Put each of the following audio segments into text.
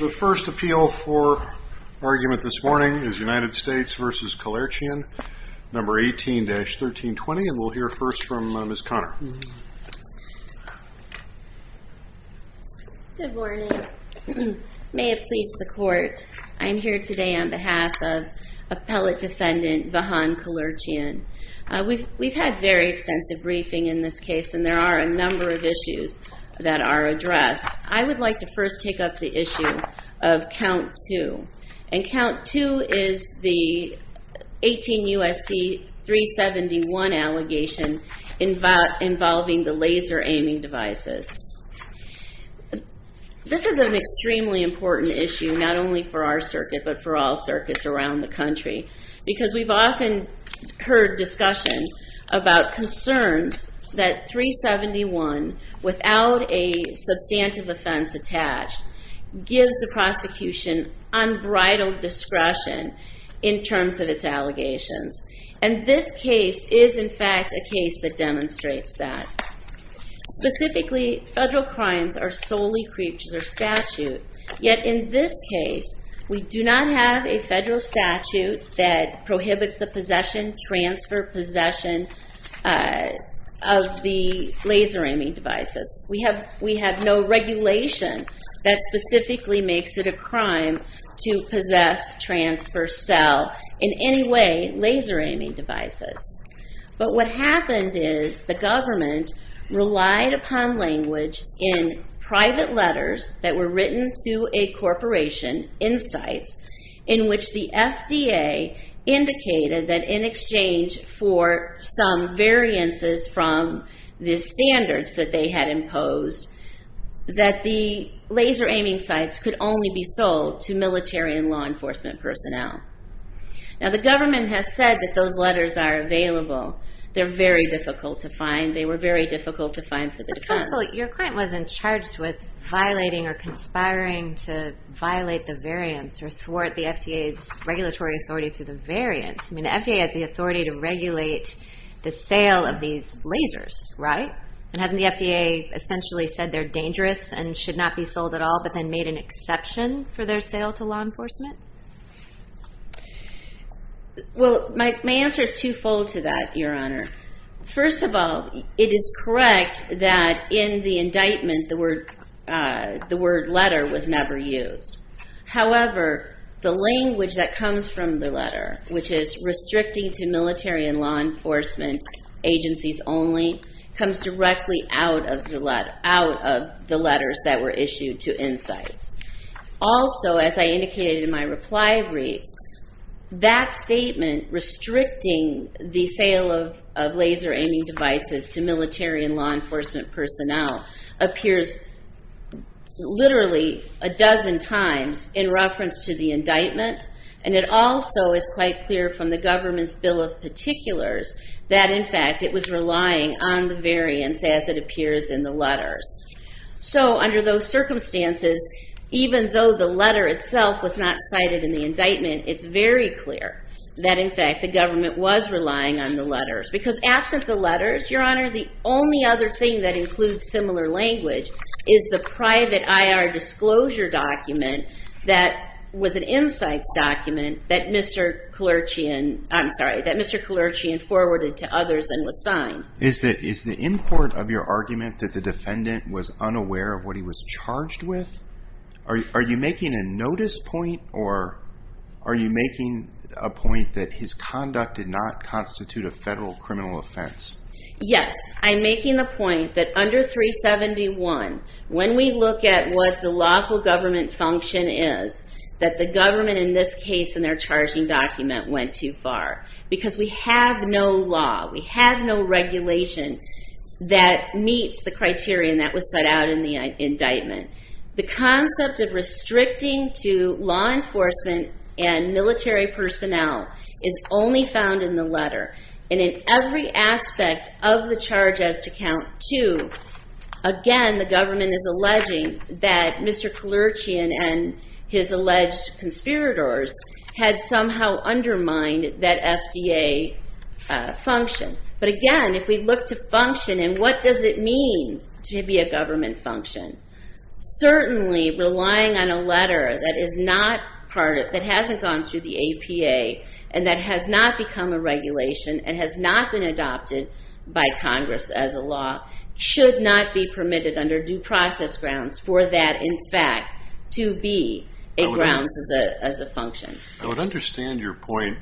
The first appeal for argument this morning is United States v. Kelerchian, No. 18-1320, and we'll hear first from Ms. Conner. Good morning. May it please the Court, I am here today on behalf of Appellate Defendant Vahan Kelerchian. We've had very extensive briefing in this case, and there are a number of issues that are addressed. I would like to first take up the issue of Count 2, and Count 2 is the 18 U.S.C. 371 allegation involving the laser aiming devices. This is an extremely important issue, not only for our circuit, but for all circuits around the country, because we've often heard discussion about concerns that 371, without a substantive offense attached, gives the prosecution unbridled discretion in terms of its allegations. And this case is, in fact, a case that demonstrates that. Specifically, federal crimes are solely creed to their statute. Yet in this case, we do not have a federal statute that prohibits the possession, transfer, possession of the laser aiming devices. We have no regulation that specifically makes it a crime to possess, transfer, sell, in any way, laser aiming devices. But what happened is the government relied upon language in private letters that were written to a corporation, Insights, in which the FDA indicated that in exchange for some variances from the standards that they had imposed, that the laser aiming sites could only be sold to military and law enforcement personnel. Now, the government has said that those letters are available. They're very difficult to find. They were very difficult to find for the defense. But, Counsel, your client wasn't charged with violating or conspiring to violate the variance or thwart the FDA's regulatory authority through the variance. I mean, the FDA has the authority to regulate the sale of these lasers, right? And hasn't the FDA essentially said they're dangerous and should not be sold at all, but then made an exception for their sale to law enforcement? Well, my answer is twofold to that, Your Honor. First of all, it is correct that in the indictment the word letter was never used. The word letter, which is restricting to military and law enforcement agencies only, comes directly out of the letters that were issued to Insights. Also, as I indicated in my reply brief, that statement, restricting the sale of laser aiming devices to military and law enforcement personnel, appears literally a dozen times in reference to the indictment. And it also is quite clear from the government's bill of particulars that, in fact, it was relying on the variance as it appears in the letters. So under those circumstances, even though the letter itself was not cited in the indictment, it's very clear that, in fact, the government was relying on the letters. Because absent the letters, Your Honor, the only other thing that includes similar language is the private IR disclosure document that was an Insights document that Mr. Kalerchian forwarded to others and was signed. Is the import of your argument that the defendant was unaware of what he was charged with? Are you making a notice point, or are you making a point that his conduct did not constitute a federal criminal offense? Yes, I'm making the point that under 371, when we look at what the lawful government function is, that the government, in this case, in their charging document, went too far. Because we have no law, we have no regulation that meets the criteria that was set out in the indictment. The concept of restricting to law enforcement and military personnel is only found in the letter. And in every aspect of the charge as to count two, again, the government is alleging that Mr. Kalerchian and his alleged conspirators had somehow undermined that FDA function. But again, if we look to function, and what does it mean to be a government function? Certainly, relying on a letter that hasn't gone through the APA and that has not become a regulation and has not been adopted by Congress as a law should not be permitted under due process grounds for that, in fact, to be a grounds as a function. I would understand your point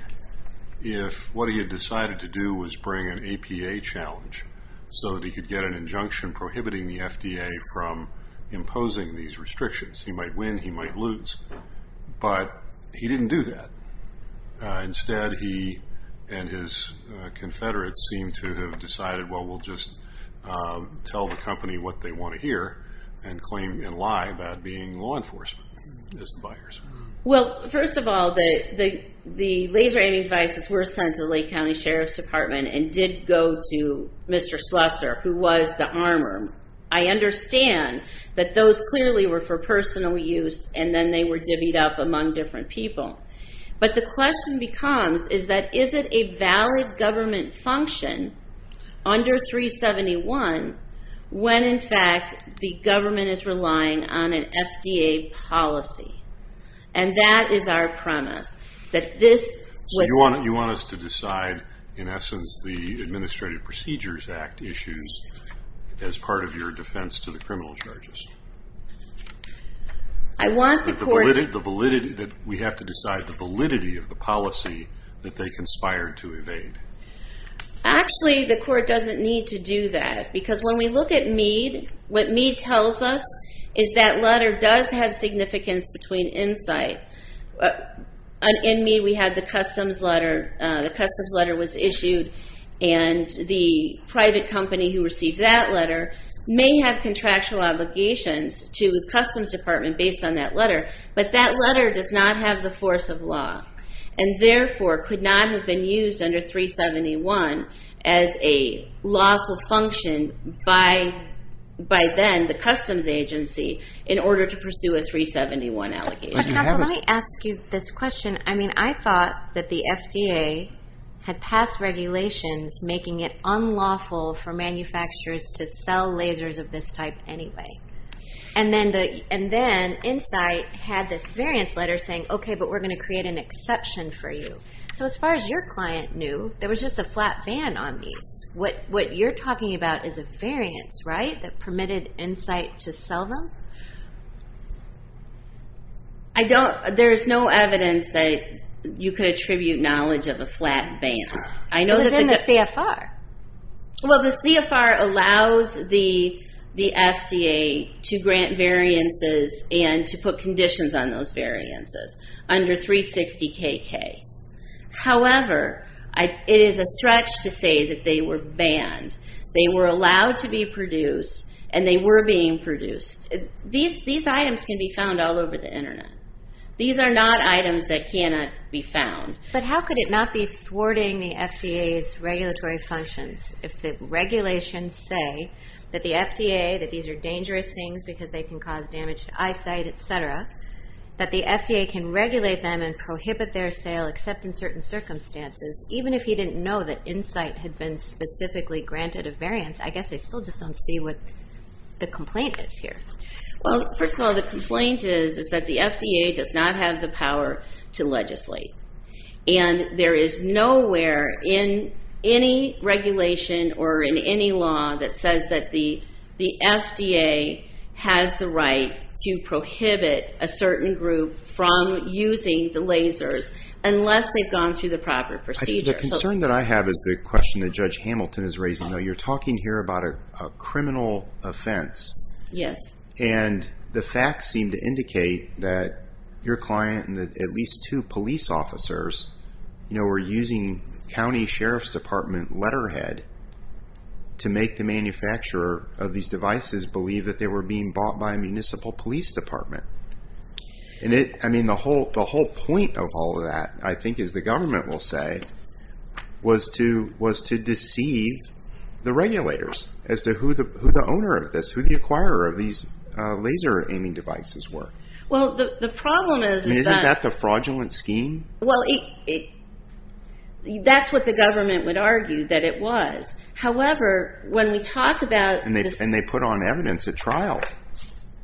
if what he had decided to do was bring an APA challenge so that he could get an injunction prohibiting the FDA from imposing these restrictions. He might win, he might lose, but he didn't do that. Instead, he and his confederates seem to have decided, well, we'll just tell the company what they want to hear and claim and lie about being law enforcement as the buyers. Well, first of all, the laser aiming devices were sent to the Lake County Sheriff's Department and did go to Mr. Slusser, who was the armorer. I understand that those clearly were for personal use, and then they were divvied up among different people. But the question becomes is that is it a valid government function under 371 when, in fact, the government is relying on an FDA policy? And that is our premise, that this was... the Administrative Procedures Act issues as part of your defense to the criminal charges. I want the court... We have to decide the validity of the policy that they conspired to evade. Actually, the court doesn't need to do that, because when we look at Mead, what Mead tells us is that letter does have significance between insight. In Mead, we had the customs letter. The customs letter was issued, and the private company who received that letter may have contractual obligations to the Customs Department based on that letter, but that letter does not have the force of law and therefore could not have been used under 371 as a lawful function by then, the customs agency, in order to pursue a 371 allegation. Counsel, let me ask you this question. I mean, I thought that the FDA had passed regulations making it unlawful for manufacturers to sell lasers of this type anyway. And then Insight had this variance letter saying, okay, but we're going to create an exception for you. So as far as your client knew, there was just a flat van on these. What you're talking about is a variance, right, that permitted Insight to sell them? There is no evidence that you could attribute knowledge of a flat van. It was in the CFR. Well, the CFR allows the FDA to grant variances and to put conditions on those variances under 360 KK. However, it is a stretch to say that they were banned. They were allowed to be produced, and they were being produced. These items can be found all over the Internet. These are not items that cannot be found. But how could it not be thwarting the FDA's regulatory functions if the regulations say that the FDA, that these are dangerous things because they can cause damage to eyesight, et cetera, that the FDA can regulate them and prohibit their sale except in certain circumstances, even if he didn't know that Insight had been specifically granted a variance? I guess I still just don't see what the complaint is here. Well, first of all, the complaint is that the FDA does not have the power to legislate. And there is nowhere in any regulation or in any law that says that the FDA has the right to prohibit a certain group from using the lasers unless they've gone through the proper procedure. The concern that I have is the question that Judge Hamilton is raising. You're talking here about a criminal offense. Yes. And the facts seem to indicate that your client and at least two police officers were using county sheriff's department letterhead to make the manufacturer of these devices believe that they were being bought by a municipal police department. The whole point of all of that, I think, as the government will say, was to deceive the regulators as to who the owner of this, who the acquirer of these laser-aiming devices were. Well, the problem is that... Isn't that the fraudulent scheme? Well, that's what the government would argue, that it was. However, when we talk about... And they put on evidence at trial.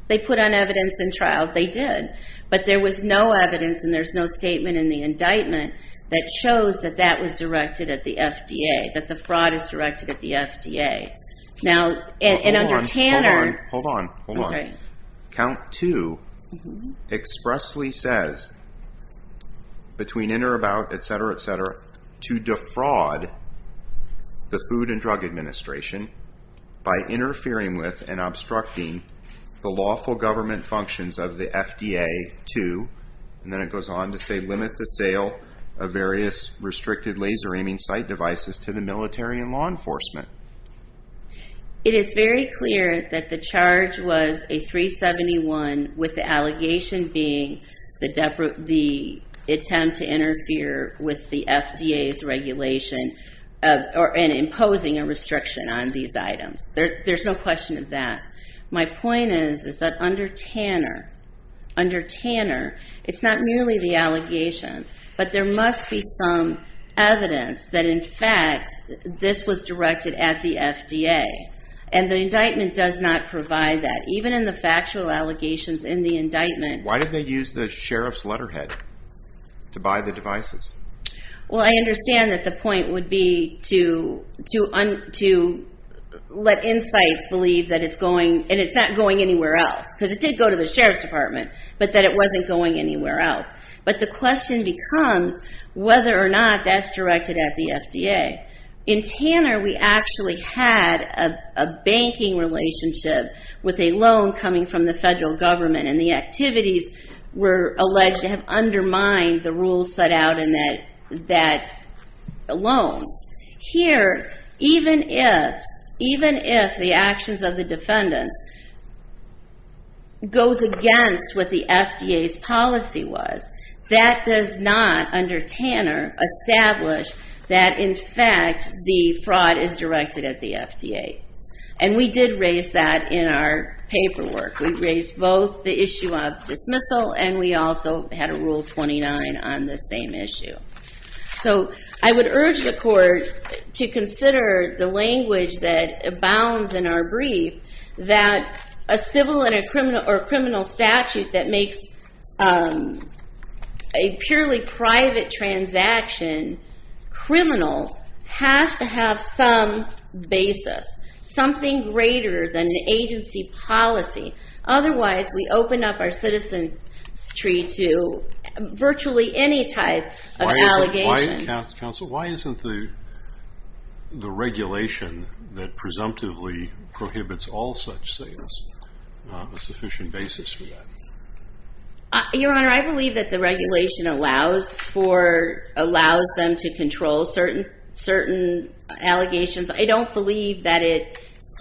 They put on evidence in trial. They did. But there was no evidence and there's no statement in the indictment that shows that that was directed at the FDA, that the fraud is directed at the FDA. Now, and under Tanner... Hold on, hold on, hold on. I'm sorry. Count 2 expressly says, between in or about, et cetera, et cetera, to defraud the Food and Drug Administration by interfering with and obstructing the lawful government functions of the FDA 2. And then it goes on to say, limit the sale of various restricted laser-aiming sight devices to the military and law enforcement. It is very clear that the charge was a 371, with the allegation being the attempt to interfere with the FDA's regulation and imposing a restriction on these items. There's no question of that. My point is that under Tanner, it's not merely the allegation, but there must be some evidence that, in fact, this was directed at the FDA. And the indictment does not provide that. Even in the factual allegations in the indictment... Why did they use the sheriff's letterhead to buy the devices? Well, I understand that the point would be to let Insights believe that it's going, and it's not going anywhere else, because it did go to the sheriff's department, but that it wasn't going anywhere else. But the question becomes whether or not that's directed at the FDA. In Tanner, we actually had a banking relationship with a loan coming from the federal government, and the activities were alleged to have undermined the rules set out in that loan. Here, even if the actions of the defendants goes against what the FDA's policy was, that does not, under Tanner, establish that, in fact, the fraud is directed at the FDA. And we did raise that in our paperwork. We raised both the issue of dismissal, and we also had a Rule 29 on the same issue. So I would urge the court to consider the language that abounds in our brief, that a civil or criminal statute that makes a purely private transaction criminal has to have some basis, something greater than an agency policy. Otherwise, we open up our citizen's tree to virtually any type of allegation. Counsel, why isn't the regulation that presumptively prohibits all such sales a sufficient basis for that? Your Honor, I believe that the regulation allows them to control certain allegations. I don't believe that it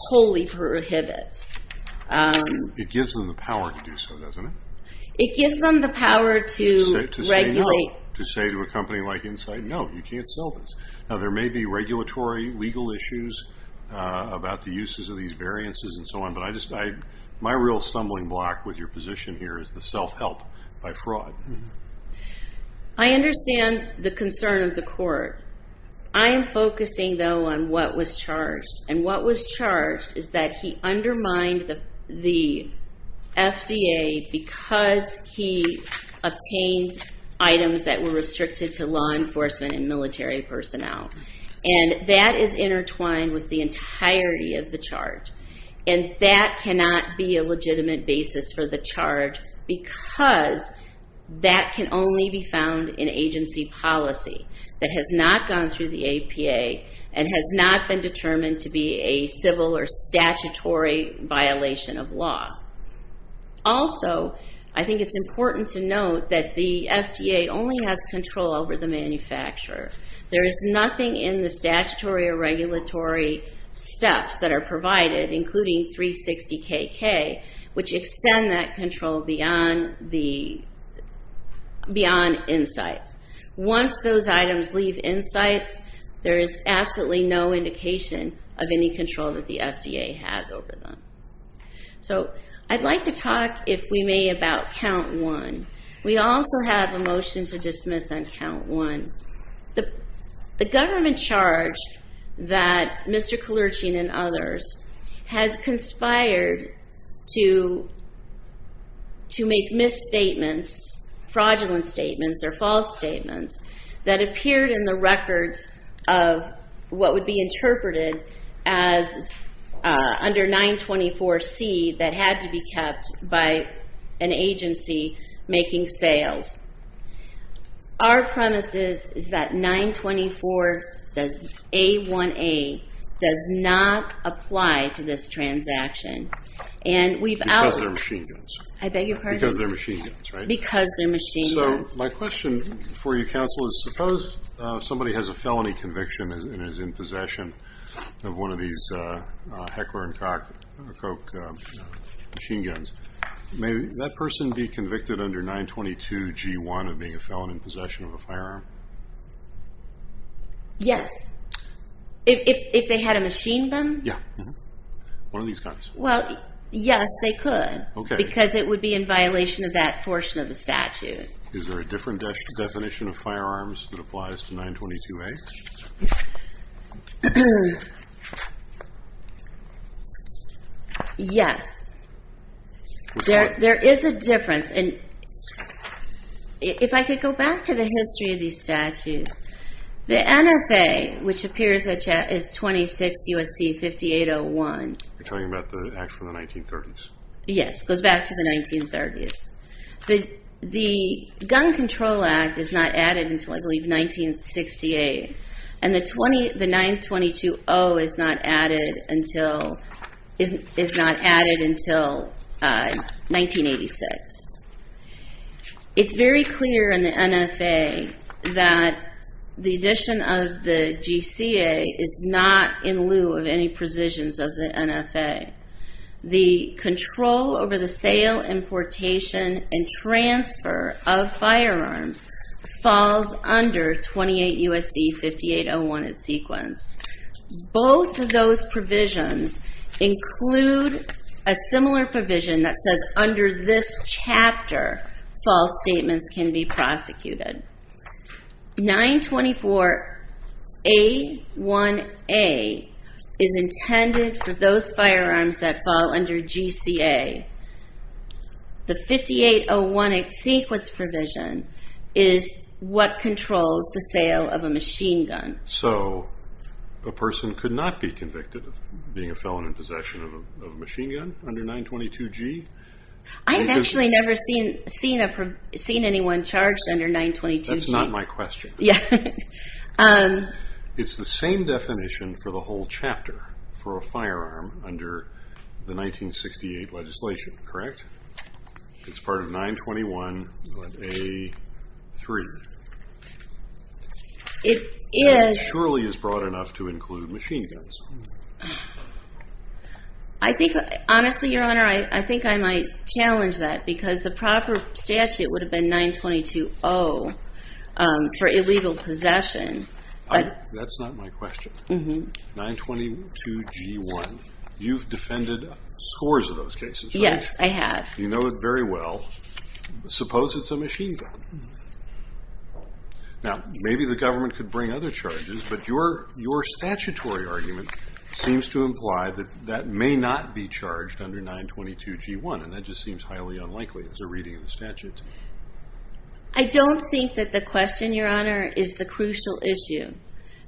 wholly prohibits. It gives them the power to do so, doesn't it? It gives them the power to regulate. To say to a company like Insight, no, you can't sell this. Now, there may be regulatory legal issues about the uses of these variances and so on, but my real stumbling block with your position here is the self-help by fraud. I understand the concern of the court. I am focusing, though, on what was charged. What was charged is that he undermined the FDA because he obtained items that were restricted to law enforcement and military personnel. That is intertwined with the entirety of the charge. That cannot be a legitimate basis for the charge because that can only be found in agency policy that has not gone through the APA and has not been determined to be a civil or statutory violation of law. Also, I think it's important to note that the FDA only has control over the manufacturer. There is nothing in the statutory or regulatory steps that are provided, including 360 KK, which extend that control beyond Insight's. Once those items leave Insight's, there is absolutely no indication of any control that the FDA has over them. I'd like to talk, if we may, about Count 1. We also have a motion to dismiss on Count 1. The government charge that Mr. Kalerchin and others had conspired to make misstatements, fraudulent statements or false statements, that appeared in the records of what would be interpreted as under 924C that had to be kept by an agency making sales. Our premise is that 924A1A does not apply to this transaction. Because they're machine guns. I beg your pardon? Because they're machine guns, right? Because they're machine guns. My question for you, counsel, is suppose somebody has a felony conviction and is in possession of one of these Heckler & Koch machine guns. May that person be convicted under 922G1 of being a felon in possession of a firearm? Yes. If they had a machine gun? Yeah. One of these guns. Well, yes, they could. Okay. Because it would be in violation of that portion of the statute. Is there a different definition of firearms that applies to 922A? Yes. There is a difference. If I could go back to the history of these statutes. The NFA, which appears in the chat, is 26 U.S.C. 5801. You're talking about the act from the 1930s? Yes. It goes back to the 1930s. The Gun Control Act is not added until, I believe, 1968, and the 922O is not added until 1986. It's very clear in the NFA that the addition of the GCA is not in lieu of any provisions of the NFA. The control over the sale, importation, and transfer of firearms falls under 28 U.S.C. 5801 in sequence. Both of those provisions include a similar provision that says, under this chapter, false statements can be prosecuted. 924A1A is intended for those firearms that fall under GCA. The 5801 in sequence provision is what controls the sale of a machine gun. So a person could not be convicted of being a felon in possession of a machine gun under 922G? I have actually never seen anyone charged under 922G. That's not my question. Yeah. It's the same definition for the whole chapter for a firearm under the 1968 legislation, correct? It's part of 921A3. It is. It surely is broad enough to include machine guns. Honestly, Your Honor, I think I might challenge that because the proper statute would have been 922O for illegal possession. That's not my question. 922G1. You've defended scores of those cases, right? Yes, I have. You know it very well. Suppose it's a machine gun. Now, maybe the government could bring other charges, but your statutory argument seems to imply that that may not be charged under 922G1, and that just seems highly unlikely as a reading of the statute. I don't think that the question, Your Honor, is the crucial issue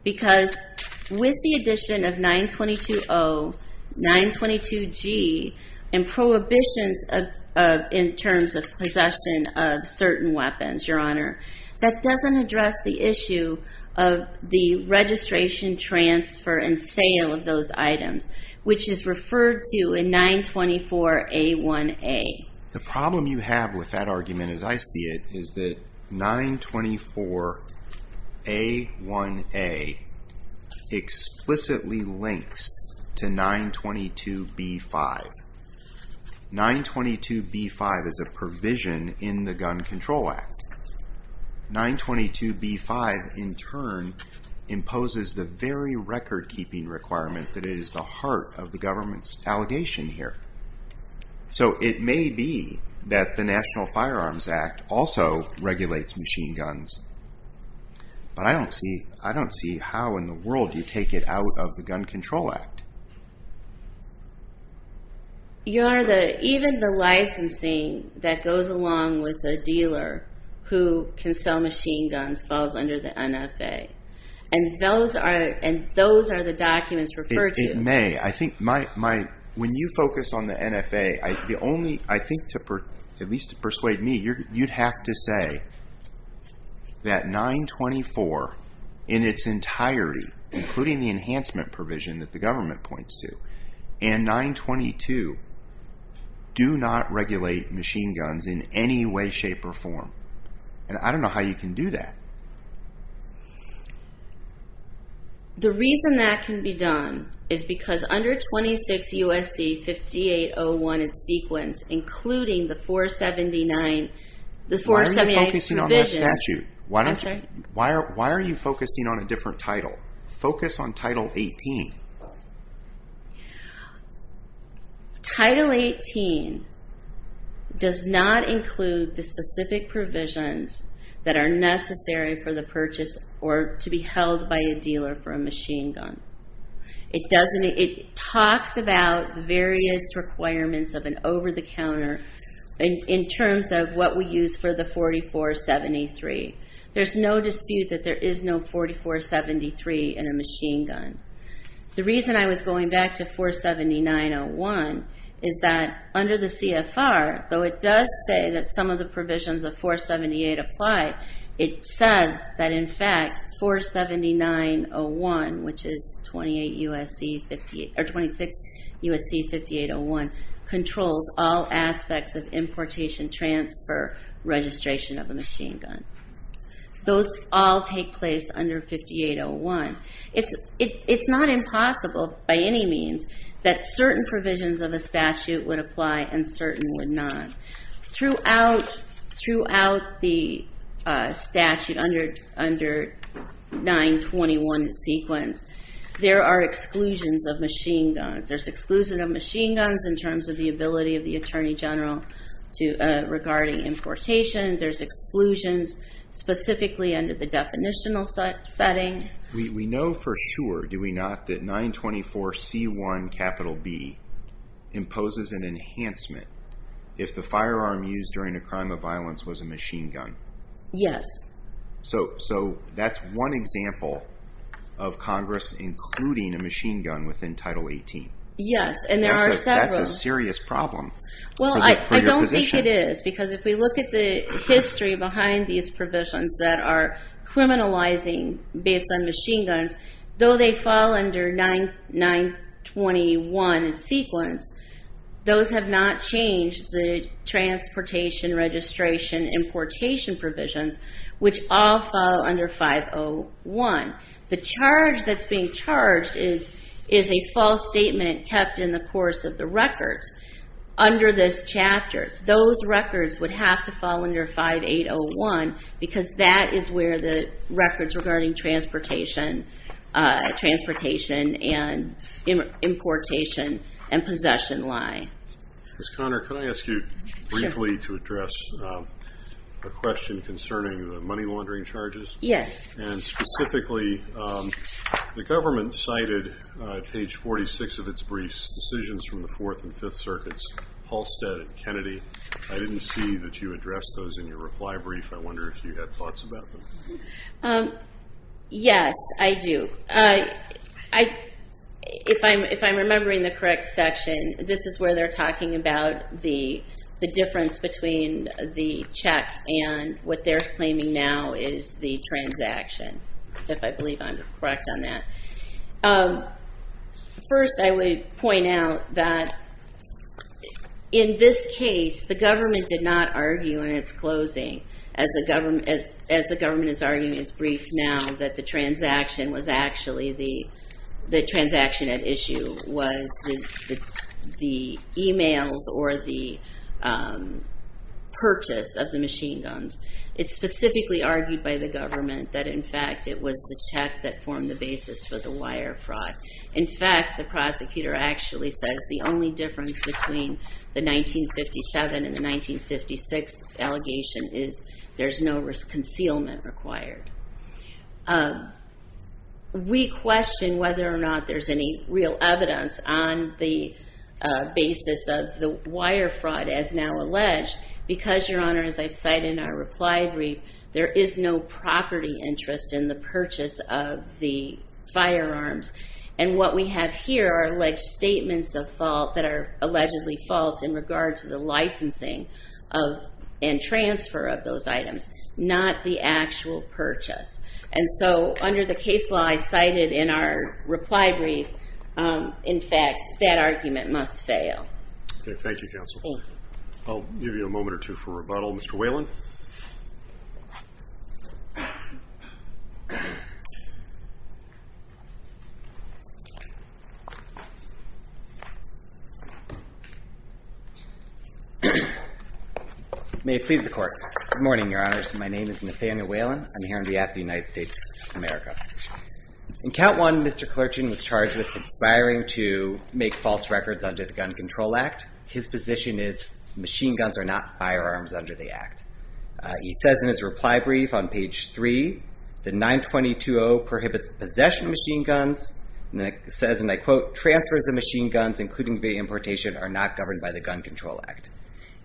because with the addition of 922O, 922G, and prohibitions in terms of possession of certain weapons, Your Honor, that doesn't address the issue of the registration, transfer, and sale of those items, which is referred to in 924A1A. The problem you have with that argument as I see it is that 924A1A explicitly links to 922B5. 922B5 is a provision in the Gun Control Act. 922B5, in turn, imposes the very record-keeping requirement that it is the heart of the government's allegation here. So it may be that the National Firearms Act also regulates machine guns, but I don't see how in the world you take it out of the Gun Control Act. Your Honor, even the licensing that goes along with a dealer who can sell machine guns falls under the NFA, and those are the documents referred to. It may. I think when you focus on the NFA, the only, I think, at least to persuade me, you'd have to say that 924 in its entirety, including the enhancement provision that the government points to, and 922 do not regulate machine guns in any way, shape, or form. And I don't know how you can do that. The reason that can be done is because under 26 U.S.C. 5801 in sequence, including the 478 provision... Why are you focusing on that statute? I'm sorry? Why are you focusing on a different title? Focus on Title 18. Title 18 does not include the specific provisions that are necessary for the purchase or to be held by a dealer for a machine gun. It talks about the various requirements of an over-the-counter in terms of what we use for the 4473. There's no dispute that there is no 4473 in a machine gun. The reason I was going back to 47901 is that under the CFR, though it does say that some of the provisions of 478 apply, it says that in fact 47901, which is 26 U.S.C. 5801, controls all aspects of importation, transfer, registration of a machine gun. Those all take place under 5801. It's not impossible by any means that certain provisions of a statute would apply and certain would not. Throughout the statute under 921 sequence, there are exclusions of machine guns. There's exclusions of machine guns in terms of the ability of the Attorney General regarding importation. There's exclusions specifically under the definitional setting. We know for sure, do we not, that 924C1B imposes an enhancement if the firearm used during a crime of violence was a machine gun? Yes. So that's one example of Congress including a machine gun within Title 18. Yes, and there are several. That's a serious problem for your position. Well, I don't think it is because if we look at the history behind these provisions that are criminalizing based on machine guns, though they fall under 921 sequence, those have not changed the transportation, registration, importation provisions, which all fall under 501. The charge that's being charged is a false statement kept in the course of the records. Under this chapter, those records would have to fall under 5801 because that is where the records regarding transportation and importation and possession lie. Ms. Conner, can I ask you briefly to address a question concerning the money laundering charges? Yes. Specifically, the government cited page 46 of its briefs, decisions from the Fourth and Fifth Circuits, Halstead and Kennedy. I didn't see that you addressed those in your reply brief. I wonder if you had thoughts about them. Yes, I do. If I'm remembering the correct section, this is where they're talking about the difference between the check and what they're claiming now is the transaction, if I believe I'm correct on that. First, I would point out that in this case, the government did not argue in its closing, as the government is arguing in its brief now, that the transaction at issue was the e-mails or the purchase of the machine guns. It's specifically argued by the government that, in fact, it was the check that formed the basis for the wire fraud. In fact, the prosecutor actually says the only difference between the 1957 and the 1956 allegation is there's no concealment required. We question whether or not there's any real evidence on the basis of the wire fraud as now alleged because, Your Honor, as I've cited in our reply brief, there is no property interest in the purchase of the firearms. And what we have here are alleged statements of fault that are allegedly false in regard to the licensing and transfer of those items, not the actual purchase. And so under the case law I cited in our reply brief, in fact, that argument must fail. Okay. Thank you, counsel. I'll give you a moment or two for rebuttal. Mr. Whalen? May it please the Court. Good morning, Your Honors. My name is Nathaniel Whalen. I'm here on behalf of the United States of America. In count one, Mr. Clerkin was charged with conspiring to make false records under the Gun Control Act. His position is machine guns are not firearms under the act. He says in his reply brief on page three, the 922-0 prohibits the possession of machine guns and says, and I quote, transfers of machine guns, including the importation, are not governed by the Gun Control Act.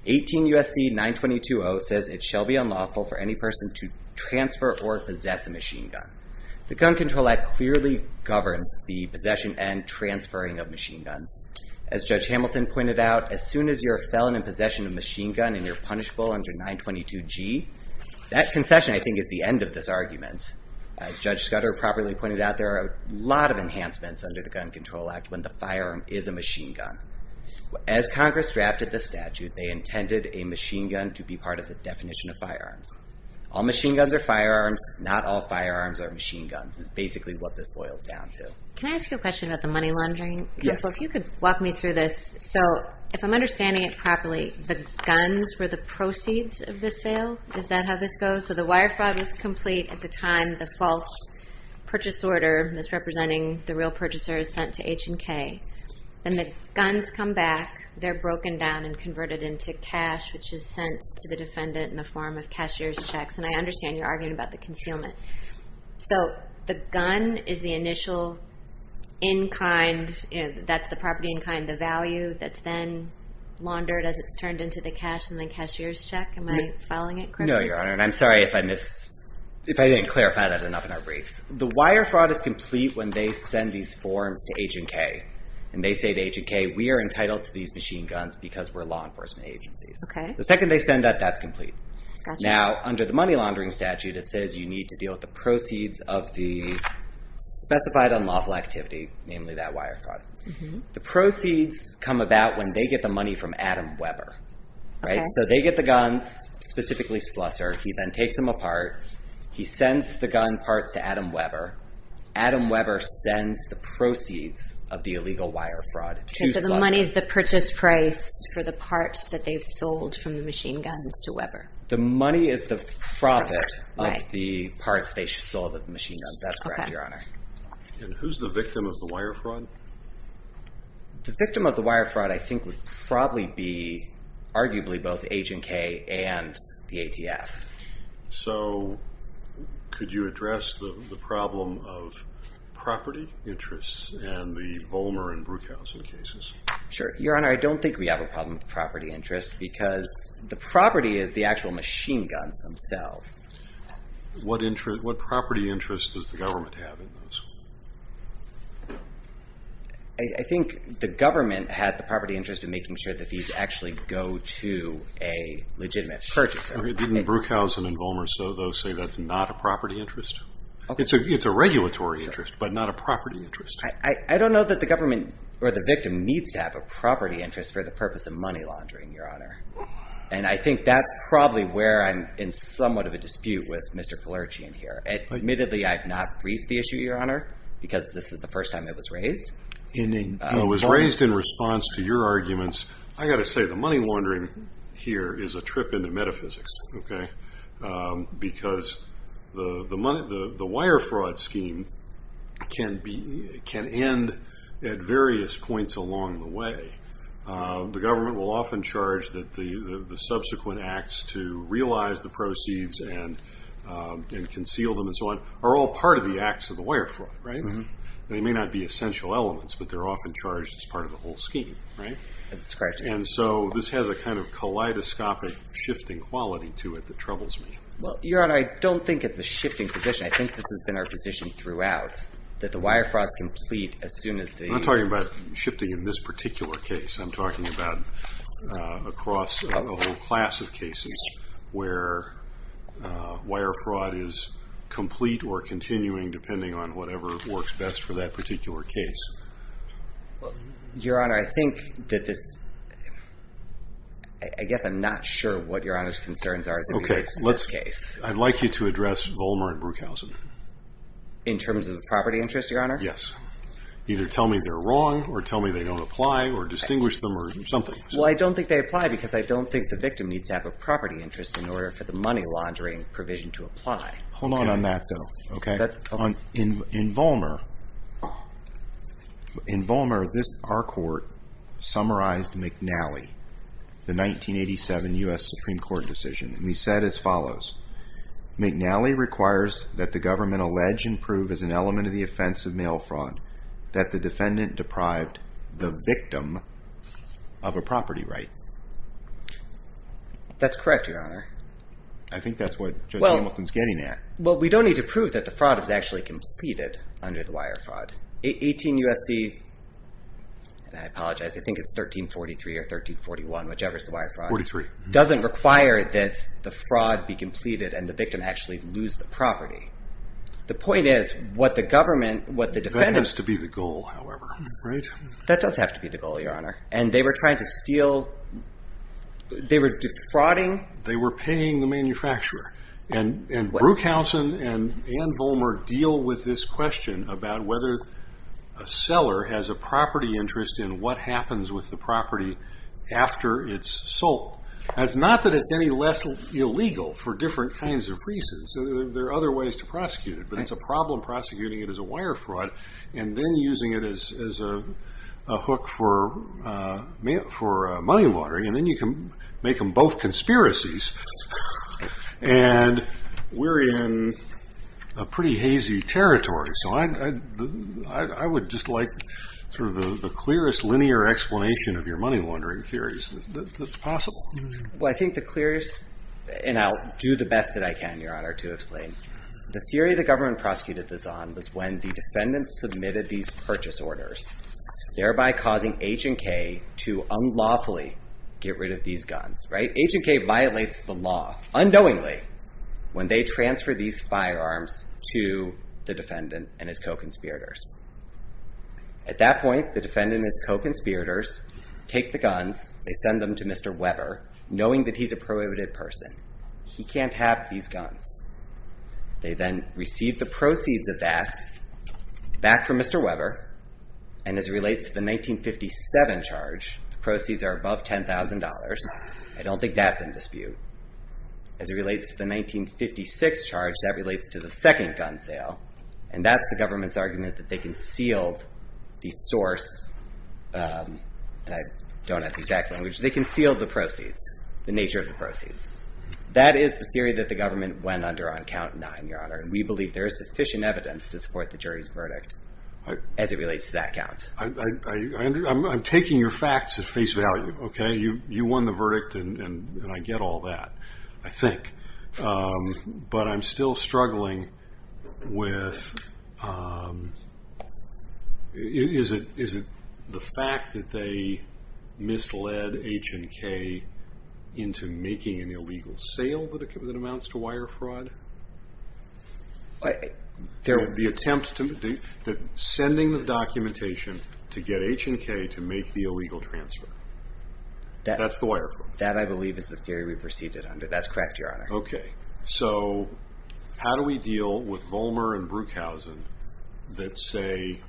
18 U.S.C. 922-0 says it shall be unlawful for any person to transfer or possess a machine gun. The Gun Control Act clearly governs the possession and transferring of machine guns. As Judge Hamilton pointed out, as soon as you're a felon in possession of a machine gun and you're punishable under 922-G, that concession, I think, is the end of this argument. As Judge Scudder properly pointed out, there are a lot of enhancements under the Gun Control Act when the firearm is a machine gun. As Congress drafted the statute, they intended a machine gun to be part of the definition of firearms. All machine guns are firearms. Not all firearms are machine guns is basically what this boils down to. Can I ask you a question about the money laundering? Yes. So if you could walk me through this. So if I'm understanding it properly, the guns were the proceeds of the sale? Is that how this goes? So the wire fraud was complete at the time the false purchase order that's representing the real purchaser is sent to H&K. Then the guns come back. They're broken down and converted into cash, which is sent to the defendant in the form of cashier's checks. And I understand you're arguing about the concealment. So the gun is the initial in-kind, that's the property in-kind, the value that's then laundered as it's turned into the cash in the cashier's check? Am I following it correctly? No, Your Honor. And I'm sorry if I didn't clarify that enough in our briefs. The wire fraud is complete when they send these forms to H&K. And they say to H&K, we are entitled to these machine guns because we're law enforcement agencies. The second they send that, that's complete. Now, under the money laundering statute, it says you need to deal with the proceeds of the specified unlawful activity, namely that wire fraud. The proceeds come about when they get the money from Adam Webber. So they get the guns, specifically Slusser. He then takes them apart. He sends the gun parts to Adam Webber. Adam Webber sends the proceeds of the illegal wire fraud to Slusser. So the money is the purchase price for the parts that they've sold from the machine guns to Webber. The money is the profit of the parts they sold of the machine guns. That's correct, Your Honor. And who's the victim of the wire fraud? The victim of the wire fraud, I think, would probably be arguably both H&K and the ATF. So, could you address the problem of property interests and the Volmer and Bruchhausen cases? Sure. Your Honor, I don't think we have a problem with property interest because the property is the actual machine guns themselves. What property interest does the government have in those? I think the government has the property interest in making sure that these actually go to a legitimate purchaser. Didn't Bruchhausen and Volmer say that's not a property interest? It's a regulatory interest, but not a property interest. I don't know that the government or the victim needs to have a property interest for the purpose of money laundering, Your Honor. And I think that's probably where I'm in somewhat of a dispute with Mr. Polerchian here. Admittedly, I have not briefed the issue, Your Honor, because this is the first time it was raised. It was raised in response to your arguments. I've got to say the money laundering here is a trip into metaphysics. Because the wire fraud scheme can end at various points along the way. The government will often charge that the subsequent acts to realize the proceeds and conceal them and so on are all part of the acts of the wire fraud. They may not be essential elements, but they're often charged as part of the whole scheme. This has a kind of kaleidoscopic shifting quality to it that troubles me. Your Honor, I don't think it's a shifting position. I think this has been our position throughout, that the wire fraud is complete as soon as the... I'm not talking about shifting in this particular case. I'm talking about across a whole class of cases where wire fraud is complete or continuing depending on whatever works best for that particular case. Your Honor, I think that this... I guess I'm not sure what Your Honor's concerns are. I'd like you to address Volmer and Bruchhausen. In terms of the property interest, Your Honor? Yes. Either tell me they're wrong or tell me they don't apply or distinguish them or something. Well, I don't think they apply because I don't think the victim needs to have a property interest in order for the money laundering provision to apply. Hold on on that though. In Volmer, in Volmer, our court summarized McNally, the 1987 U.S. Supreme Court decision. We said as follows, McNally requires that the government allege and prove as an element of the offense of mail fraud that the defendant deprived the victim of a property right. That's correct, Your Honor. I think that's what Judge Hamilton's getting at. Well, we don't need to prove that the fraud was actually completed under the wire fraud. 18 U.S.C., and I apologize, I think it's 1343 or 1341, whichever is the wire fraud, doesn't require that the fraud be completed and the victim actually lose the property. The point is, what the government, right? That does have to be the goal, Your Honor. And they were trying to steal, they were defrauding. They were paying the manufacturer. And Bruchhausen and Ann Volmer deal with this question about whether a seller has a property interest in what happens with the property after it's sold. It's not that it's any less illegal for different kinds of reasons. There are other ways to prosecute it, but it's a problem prosecuting it as a wire fraud and then using it as a hook for money laundering and then you can make them both conspiracies. And we're in a pretty hazy territory, so I would just like the clearest linear explanation of your money laundering theories that's possible. Well, I think the clearest, and I'll do the best that I can, Your Honor, to explain. The theory the government prosecuted this on was when the defendants submitted these purchase orders, thereby causing H&K to unlawfully get rid of these guns. H&K violates the law, unknowingly, when they transfer these firearms to the defendant and his co-conspirators. At that point, the defendant and his co-conspirators take the guns, they send them to Mr. Weber, knowing that he's a prohibited person. He can't have these guns. They then receive the back from Mr. Weber, and as it relates to the 1957 charge, the proceeds are above $10,000. I don't think that's in dispute. As it relates to the 1956 charge, that relates to the second gun sale, and that's the government's argument that they concealed the source um, and I don't have the exact language, they concealed the proceeds, the nature of the proceeds. That is the theory that the government went under on count nine, Your Honor, and we believe there is sufficient evidence to support the jury's verdict as it relates to that count. I'm taking your facts at face value, okay? You won the verdict, and I get all that, I think. But I'm still struggling with um is it the fact that they misled H&K into making an illegal sale that amounts to wire fraud? There The attempt to sending the documentation to get H&K to make the illegal transfer. That's the wire fraud. That, I believe, is the theory we proceeded under. That's correct, Your Honor. Okay. So, how do we deal with Vollmer and Bruchhausen that say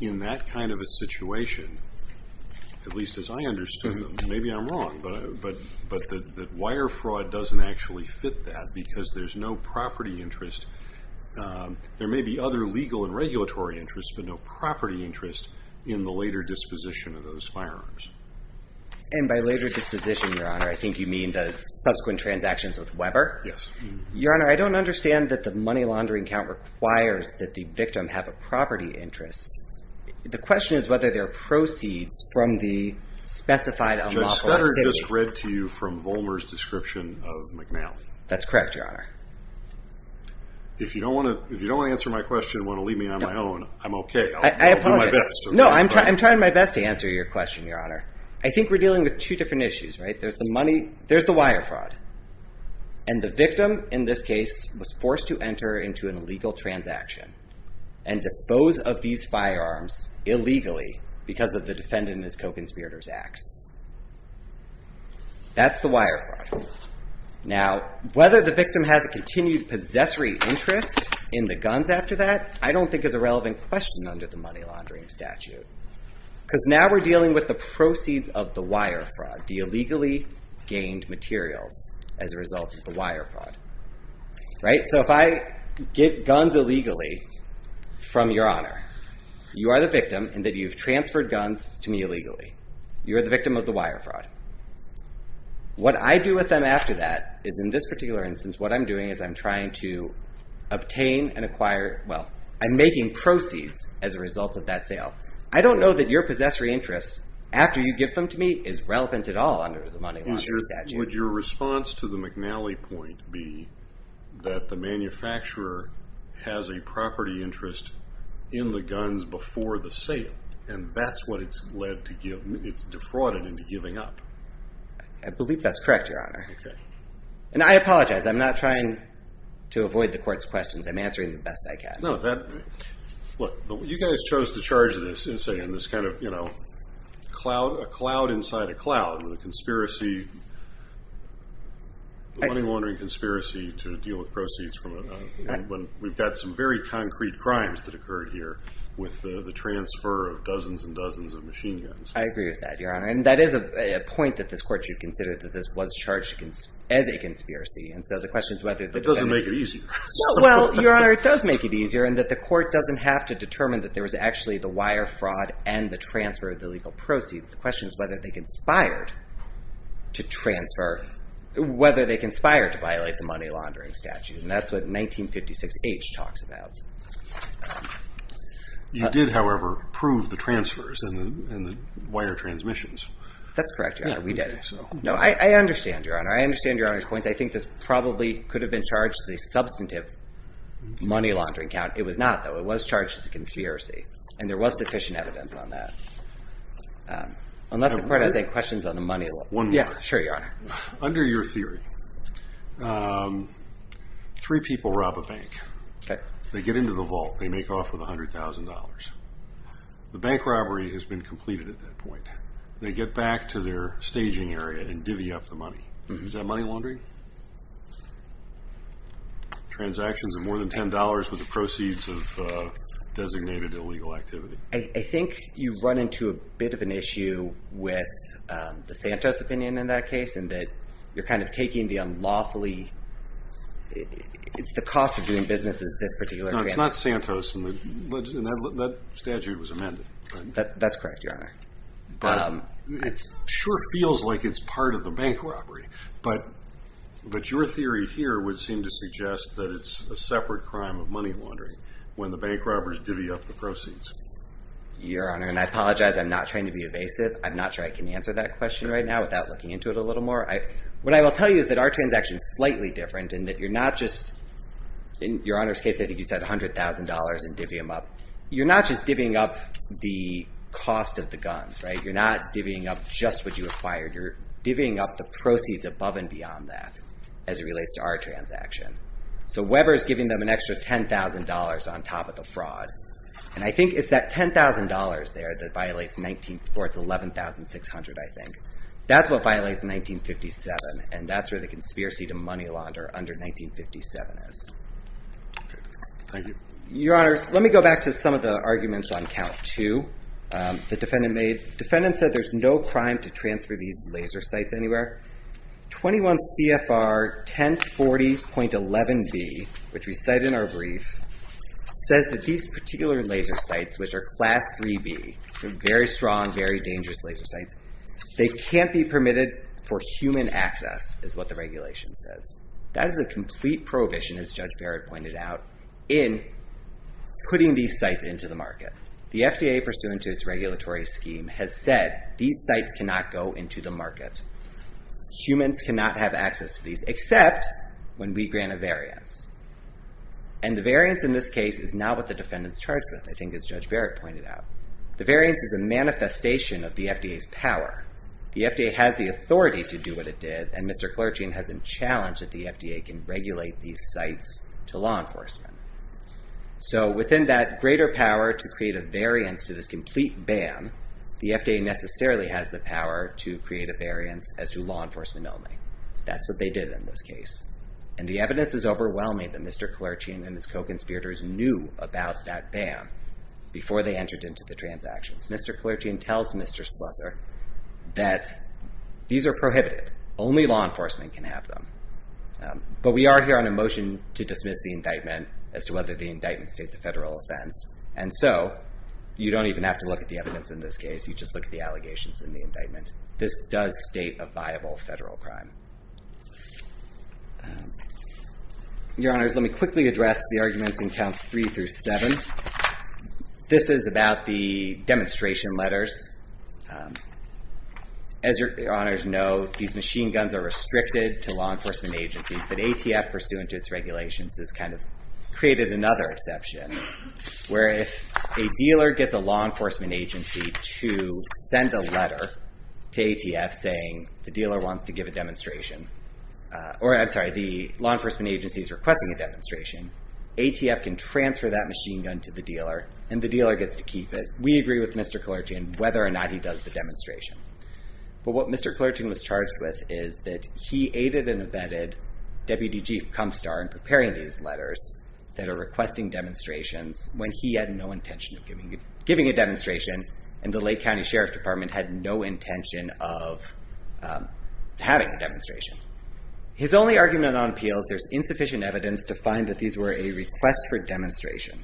in that kind of a situation, at least as I understood them, maybe I'm wrong, but that wire fraud doesn't actually fit that because there's no property interest. There may be other legal and regulatory interests, but no property interest in the later disposition of those firearms. And by later disposition, Your Honor, I think you mean the subsequent transactions with Weber? Yes. Your Honor, I don't understand that the money laundering count requires that the victim have a property interest. The question is whether there are proceeds from the specified unlawful activity. Judge Scudder just read to you from that. That's correct, Your Honor. If you don't want to answer my question and want to leave me on my own, I'm okay. I'll do my best. I apologize. No, I'm trying my best to answer your question, Your Honor. I think we're dealing with two different issues, right? There's the money. There's the wire fraud. And the victim, in this case, was forced to enter into and dispose of these firearms illegally because of the defendant and his co-conspirators' acts. That's the wire fraud. Now, whether the victim has a continued possessory interest in the guns after that, I don't think is a relevant question under the money laundering statute. Because now we're dealing with the proceeds of the wire fraud, the illegally gained materials as a result of the wire fraud. Right? So if I get guns illegally from Your Honor, you are the victim in that you've transferred guns to me illegally. You're the victim of the wire fraud. What I do with them after that is, in this particular instance, what I'm doing is I'm trying to obtain and acquire, well, I'm making proceeds as a result of that sale. I don't know that your possessory interest, after you give them to me, is relevant at all under the money laundering statute. Would your response to the McNally point be that the manufacturer has a property interest in the guns before the sale? And that's what it's led to give it's defrauded into giving up. I believe that's correct, Your Honor. And I apologize. I'm not trying to avoid the court's questions. I'm answering the best I can. Look, you guys chose to charge this in this kind of, you know, a cloud inside a cloud with a conspiracy money laundering conspiracy to deal with proceeds from it. We've got some very concrete crimes that occurred here with the transfer of dozens and dozens of machine guns. I agree with that, Your Honor. And that is a point that this court should consider that this was charged as a conspiracy. It doesn't make it easier. Well, Your Honor, it does make it easier in that the court doesn't have to determine that there was actually the wire fraud and the transfer of the legal proceeds. The question is whether they conspired to transfer, whether they conspired to violate the money laundering statute. And that's what 1956H talks about. You did, however, prove the transfers and the wire transmissions. That's correct, Your Honor. We did. No, I understand, Your Honor. I understand Your Honor's points. I think this probably could have been charged as a substantive money laundering count. It was not, though. It was charged as a conspiracy. And there was sufficient evidence on that. Unless the court has any questions on the money laundering. One more. Yes, sure, Your Honor. Under your theory, three people rob a bank. They get into the vault. They make off with $100,000. The bank robbery has been completed at that point. They get back to their staging area and divvy up the money. Is that money laundering? Transactions of more than $10 with the proceeds of designated illegal activity. I think you've run into a bit of an issue with the Santos opinion in that case, in that you're kind of taking the unlawfully it's the cost of doing business is this particular No, it's not Santos. That statute was amended. That's correct, Your Honor. It sure feels like it's part of the bank robbery. But your theory here would seem to suggest that it's a separate crime of money laundering when the bank robbers divvy up the proceeds. Your Honor, and I apologize. I'm not trying to be evasive. I'm not sure I can answer that question right now without looking into it a little more. What I will tell you is that our transaction is slightly different in that you're not just in Your Honor's case, I think you said $100,000 and divvy them up. You're not just divvying up the cost of the guns. You're not divvying up just what you acquired. You're divvying up the proceeds above and beyond that as it relates to our transaction. Weber is giving them an extra $10,000 on top of the fraud. I think it's that $10,000 there that violates or it's $11,600, I think. That's what violates 1957 and that's where the conspiracy to money launder under 1957 is. Your Honor, let me go back to some of the arguments on count two the defendant made. The defendant said there's no crime to transfer these laser sites anywhere. 21 CFR 1040.11b which we cite in our brief, says that these particular laser sites, which are class 3B, very strong, very it can't be permitted for human access, is what the regulation says. That is a complete prohibition, as Judge Barrett pointed out, in putting these sites into the market. The FDA, pursuant to its regulatory scheme, has said these sites cannot go into the market. Humans cannot have access to these, except when we grant a variance. And the variance in this case is not what the defendant's charged with, I think, as Judge Barrett pointed out. The variance is a manifestation of the FDA's power. The FDA has the authority to do what it did and Mr. Klerchian has been challenged that the FDA can regulate these sites to law enforcement. So within that greater power to create a variance to this complete ban, the FDA necessarily has the power to create a variance as to law enforcement only. That's what they did in this case. And the evidence is overwhelming that Mr. Klerchian and his co-conspirators knew about that ban before they entered into the transactions. Mr. Klerchian tells Mr. Slessor that these are prohibited. Only law enforcement can have them. But we are here on a motion to dismiss the indictment as to whether the indictment states a federal offense. And so you don't even have to look at the evidence in this case. You just look at the allegations in the indictment. This does state a viable federal crime. Your Honors, let me quickly address the arguments in Counts 3 through 7. This is about the demonstration letters. As your Honors know, these machine guns are restricted to law enforcement agencies. But ATF, pursuant to its regulations, has kind of created another exception, where if a dealer gets a law enforcement agency to send a letter to ATF saying or I'm sorry, the law enforcement agency is requesting a demonstration, ATF can transfer that machine gun to the dealer, and the dealer gets to keep it. We agree with Mr. Klerchian whether or not he does the demonstration. But what Mr. Klerchian was charged with is that he aided and abetted Deputy Chief Kumstar in preparing these letters that are requesting demonstrations when he had no intention of giving a demonstration and the Lake County Sheriff Department had no intention of having a demonstration. His only argument on appeal is there's insufficient evidence to find that these were a request for demonstration.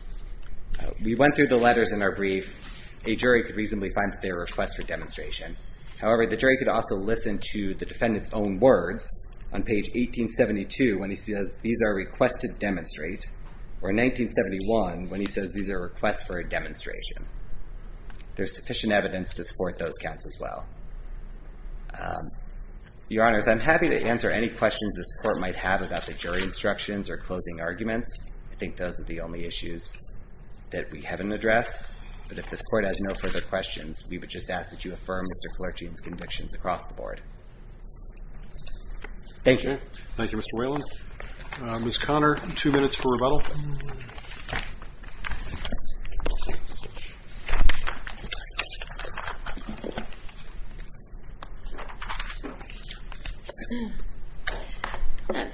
We went through the letters in our brief. A jury could reasonably find that they were a request for demonstration. However, the jury could also listen to the defendant's own words on page 1872 when he says these are requests to demonstrate, or 1971 when he says these are requests for a demonstration. There's sufficient evidence to support those counts as well. Your Honors, I'm happy to provide jury instructions or closing arguments. I think those are the only issues that we haven't addressed. But if this Court has no further questions, we would just ask that you affirm Mr. Klerchian's convictions across the Board. Thank you. Thank you, Mr. Whalen. Ms. Connor, two minutes for rebuttal.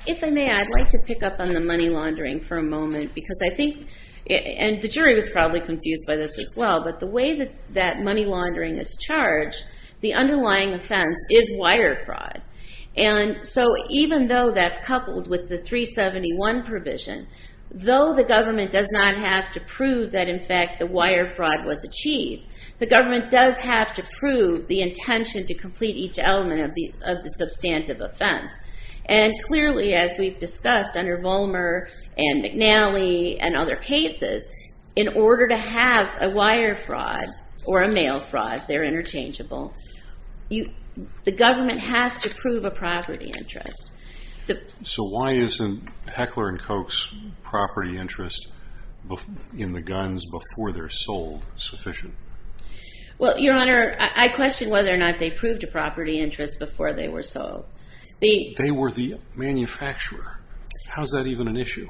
If I may, I'd like to pick up on the money laundering for a moment. The jury was probably confused by this as well, but the way that money laundering is charged, the underlying offense is wire fraud. Even though that's coupled with the government does not have to prove that in fact the wire fraud was achieved, the government does have to prove the intention to complete each element of the substantive offense. And clearly as we've discussed under Volmer and McNally and other cases, in order to have a wire fraud or a mail fraud, they're interchangeable, the government has to prove a property interest. So why isn't Heckler & Koch's property interest in the guns before they're sold sufficient? Well, Your Honor, I question whether or not they proved a property interest before they were sold. They were the manufacturer. How's that even an issue?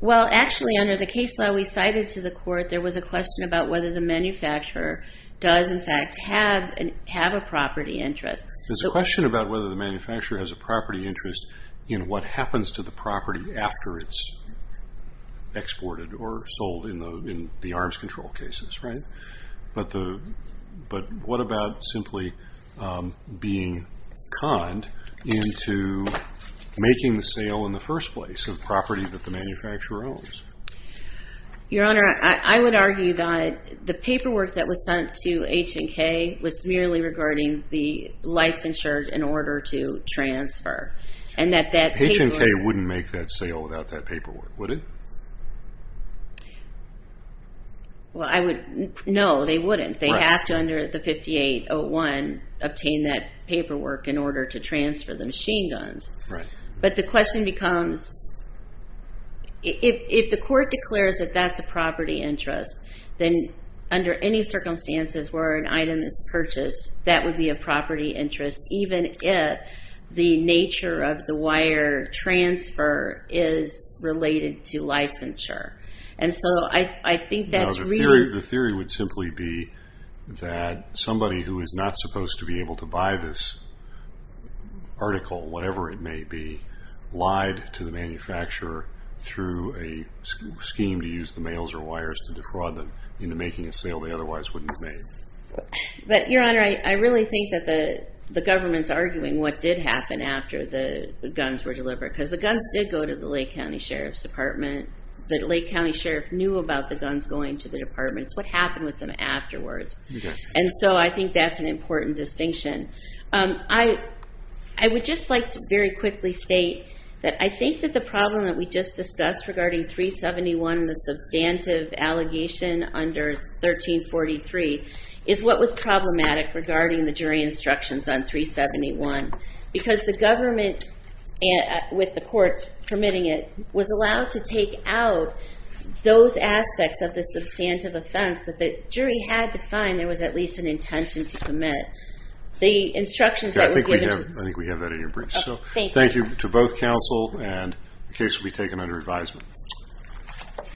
Well, actually under the case law we cited to the Court, there was a question about whether the manufacturer does in fact have a property interest. There's a question about whether the manufacturer has a property interest in what happens to the property after it's exported or sold in the arms control cases, right? But what about simply being conned into making the sale in the first place of property that the manufacturer owns? Your Honor, I would argue that the paperwork that was sent to H&K was merely regarding the licensure in order to transfer. H&K wouldn't make that sale without that paperwork, would it? No, they wouldn't. They have to, under the 5801, obtain that paperwork in order to transfer the machine guns. But the question becomes if the Court declares that that's a property interest, then under any circumstances where an item is purchased, that would be a property interest, even if the nature of the wire transfer is related to licensure. And so I think that's really... The theory would simply be that somebody who is not supposed to be able to buy this article, whatever it may be, lied to the manufacturer through a scheme to use the mails or wires to defraud them into making a sale they otherwise wouldn't have made. But, Your Honor, I really think that the government's arguing what did happen after the guns were delivered. Because the guns did go to the Lake County Sheriff's Department. The Lake County Sheriff knew about the guns going to the departments. What happened with them afterwards? And so I think that's an important distinction. I would just like to very quickly state that I think that the problem that we just discussed regarding 371, the substantive allegation under 1343, is what was problematic regarding the jury instructions on 371. Because the government with the courts permitting it was allowed to take out those aspects of the substantive offense that the jury had to find there was at least an intention to commit. The instructions that were given... I think we have that in your briefs. Thank you to both counsel and the case will be taken under advisement.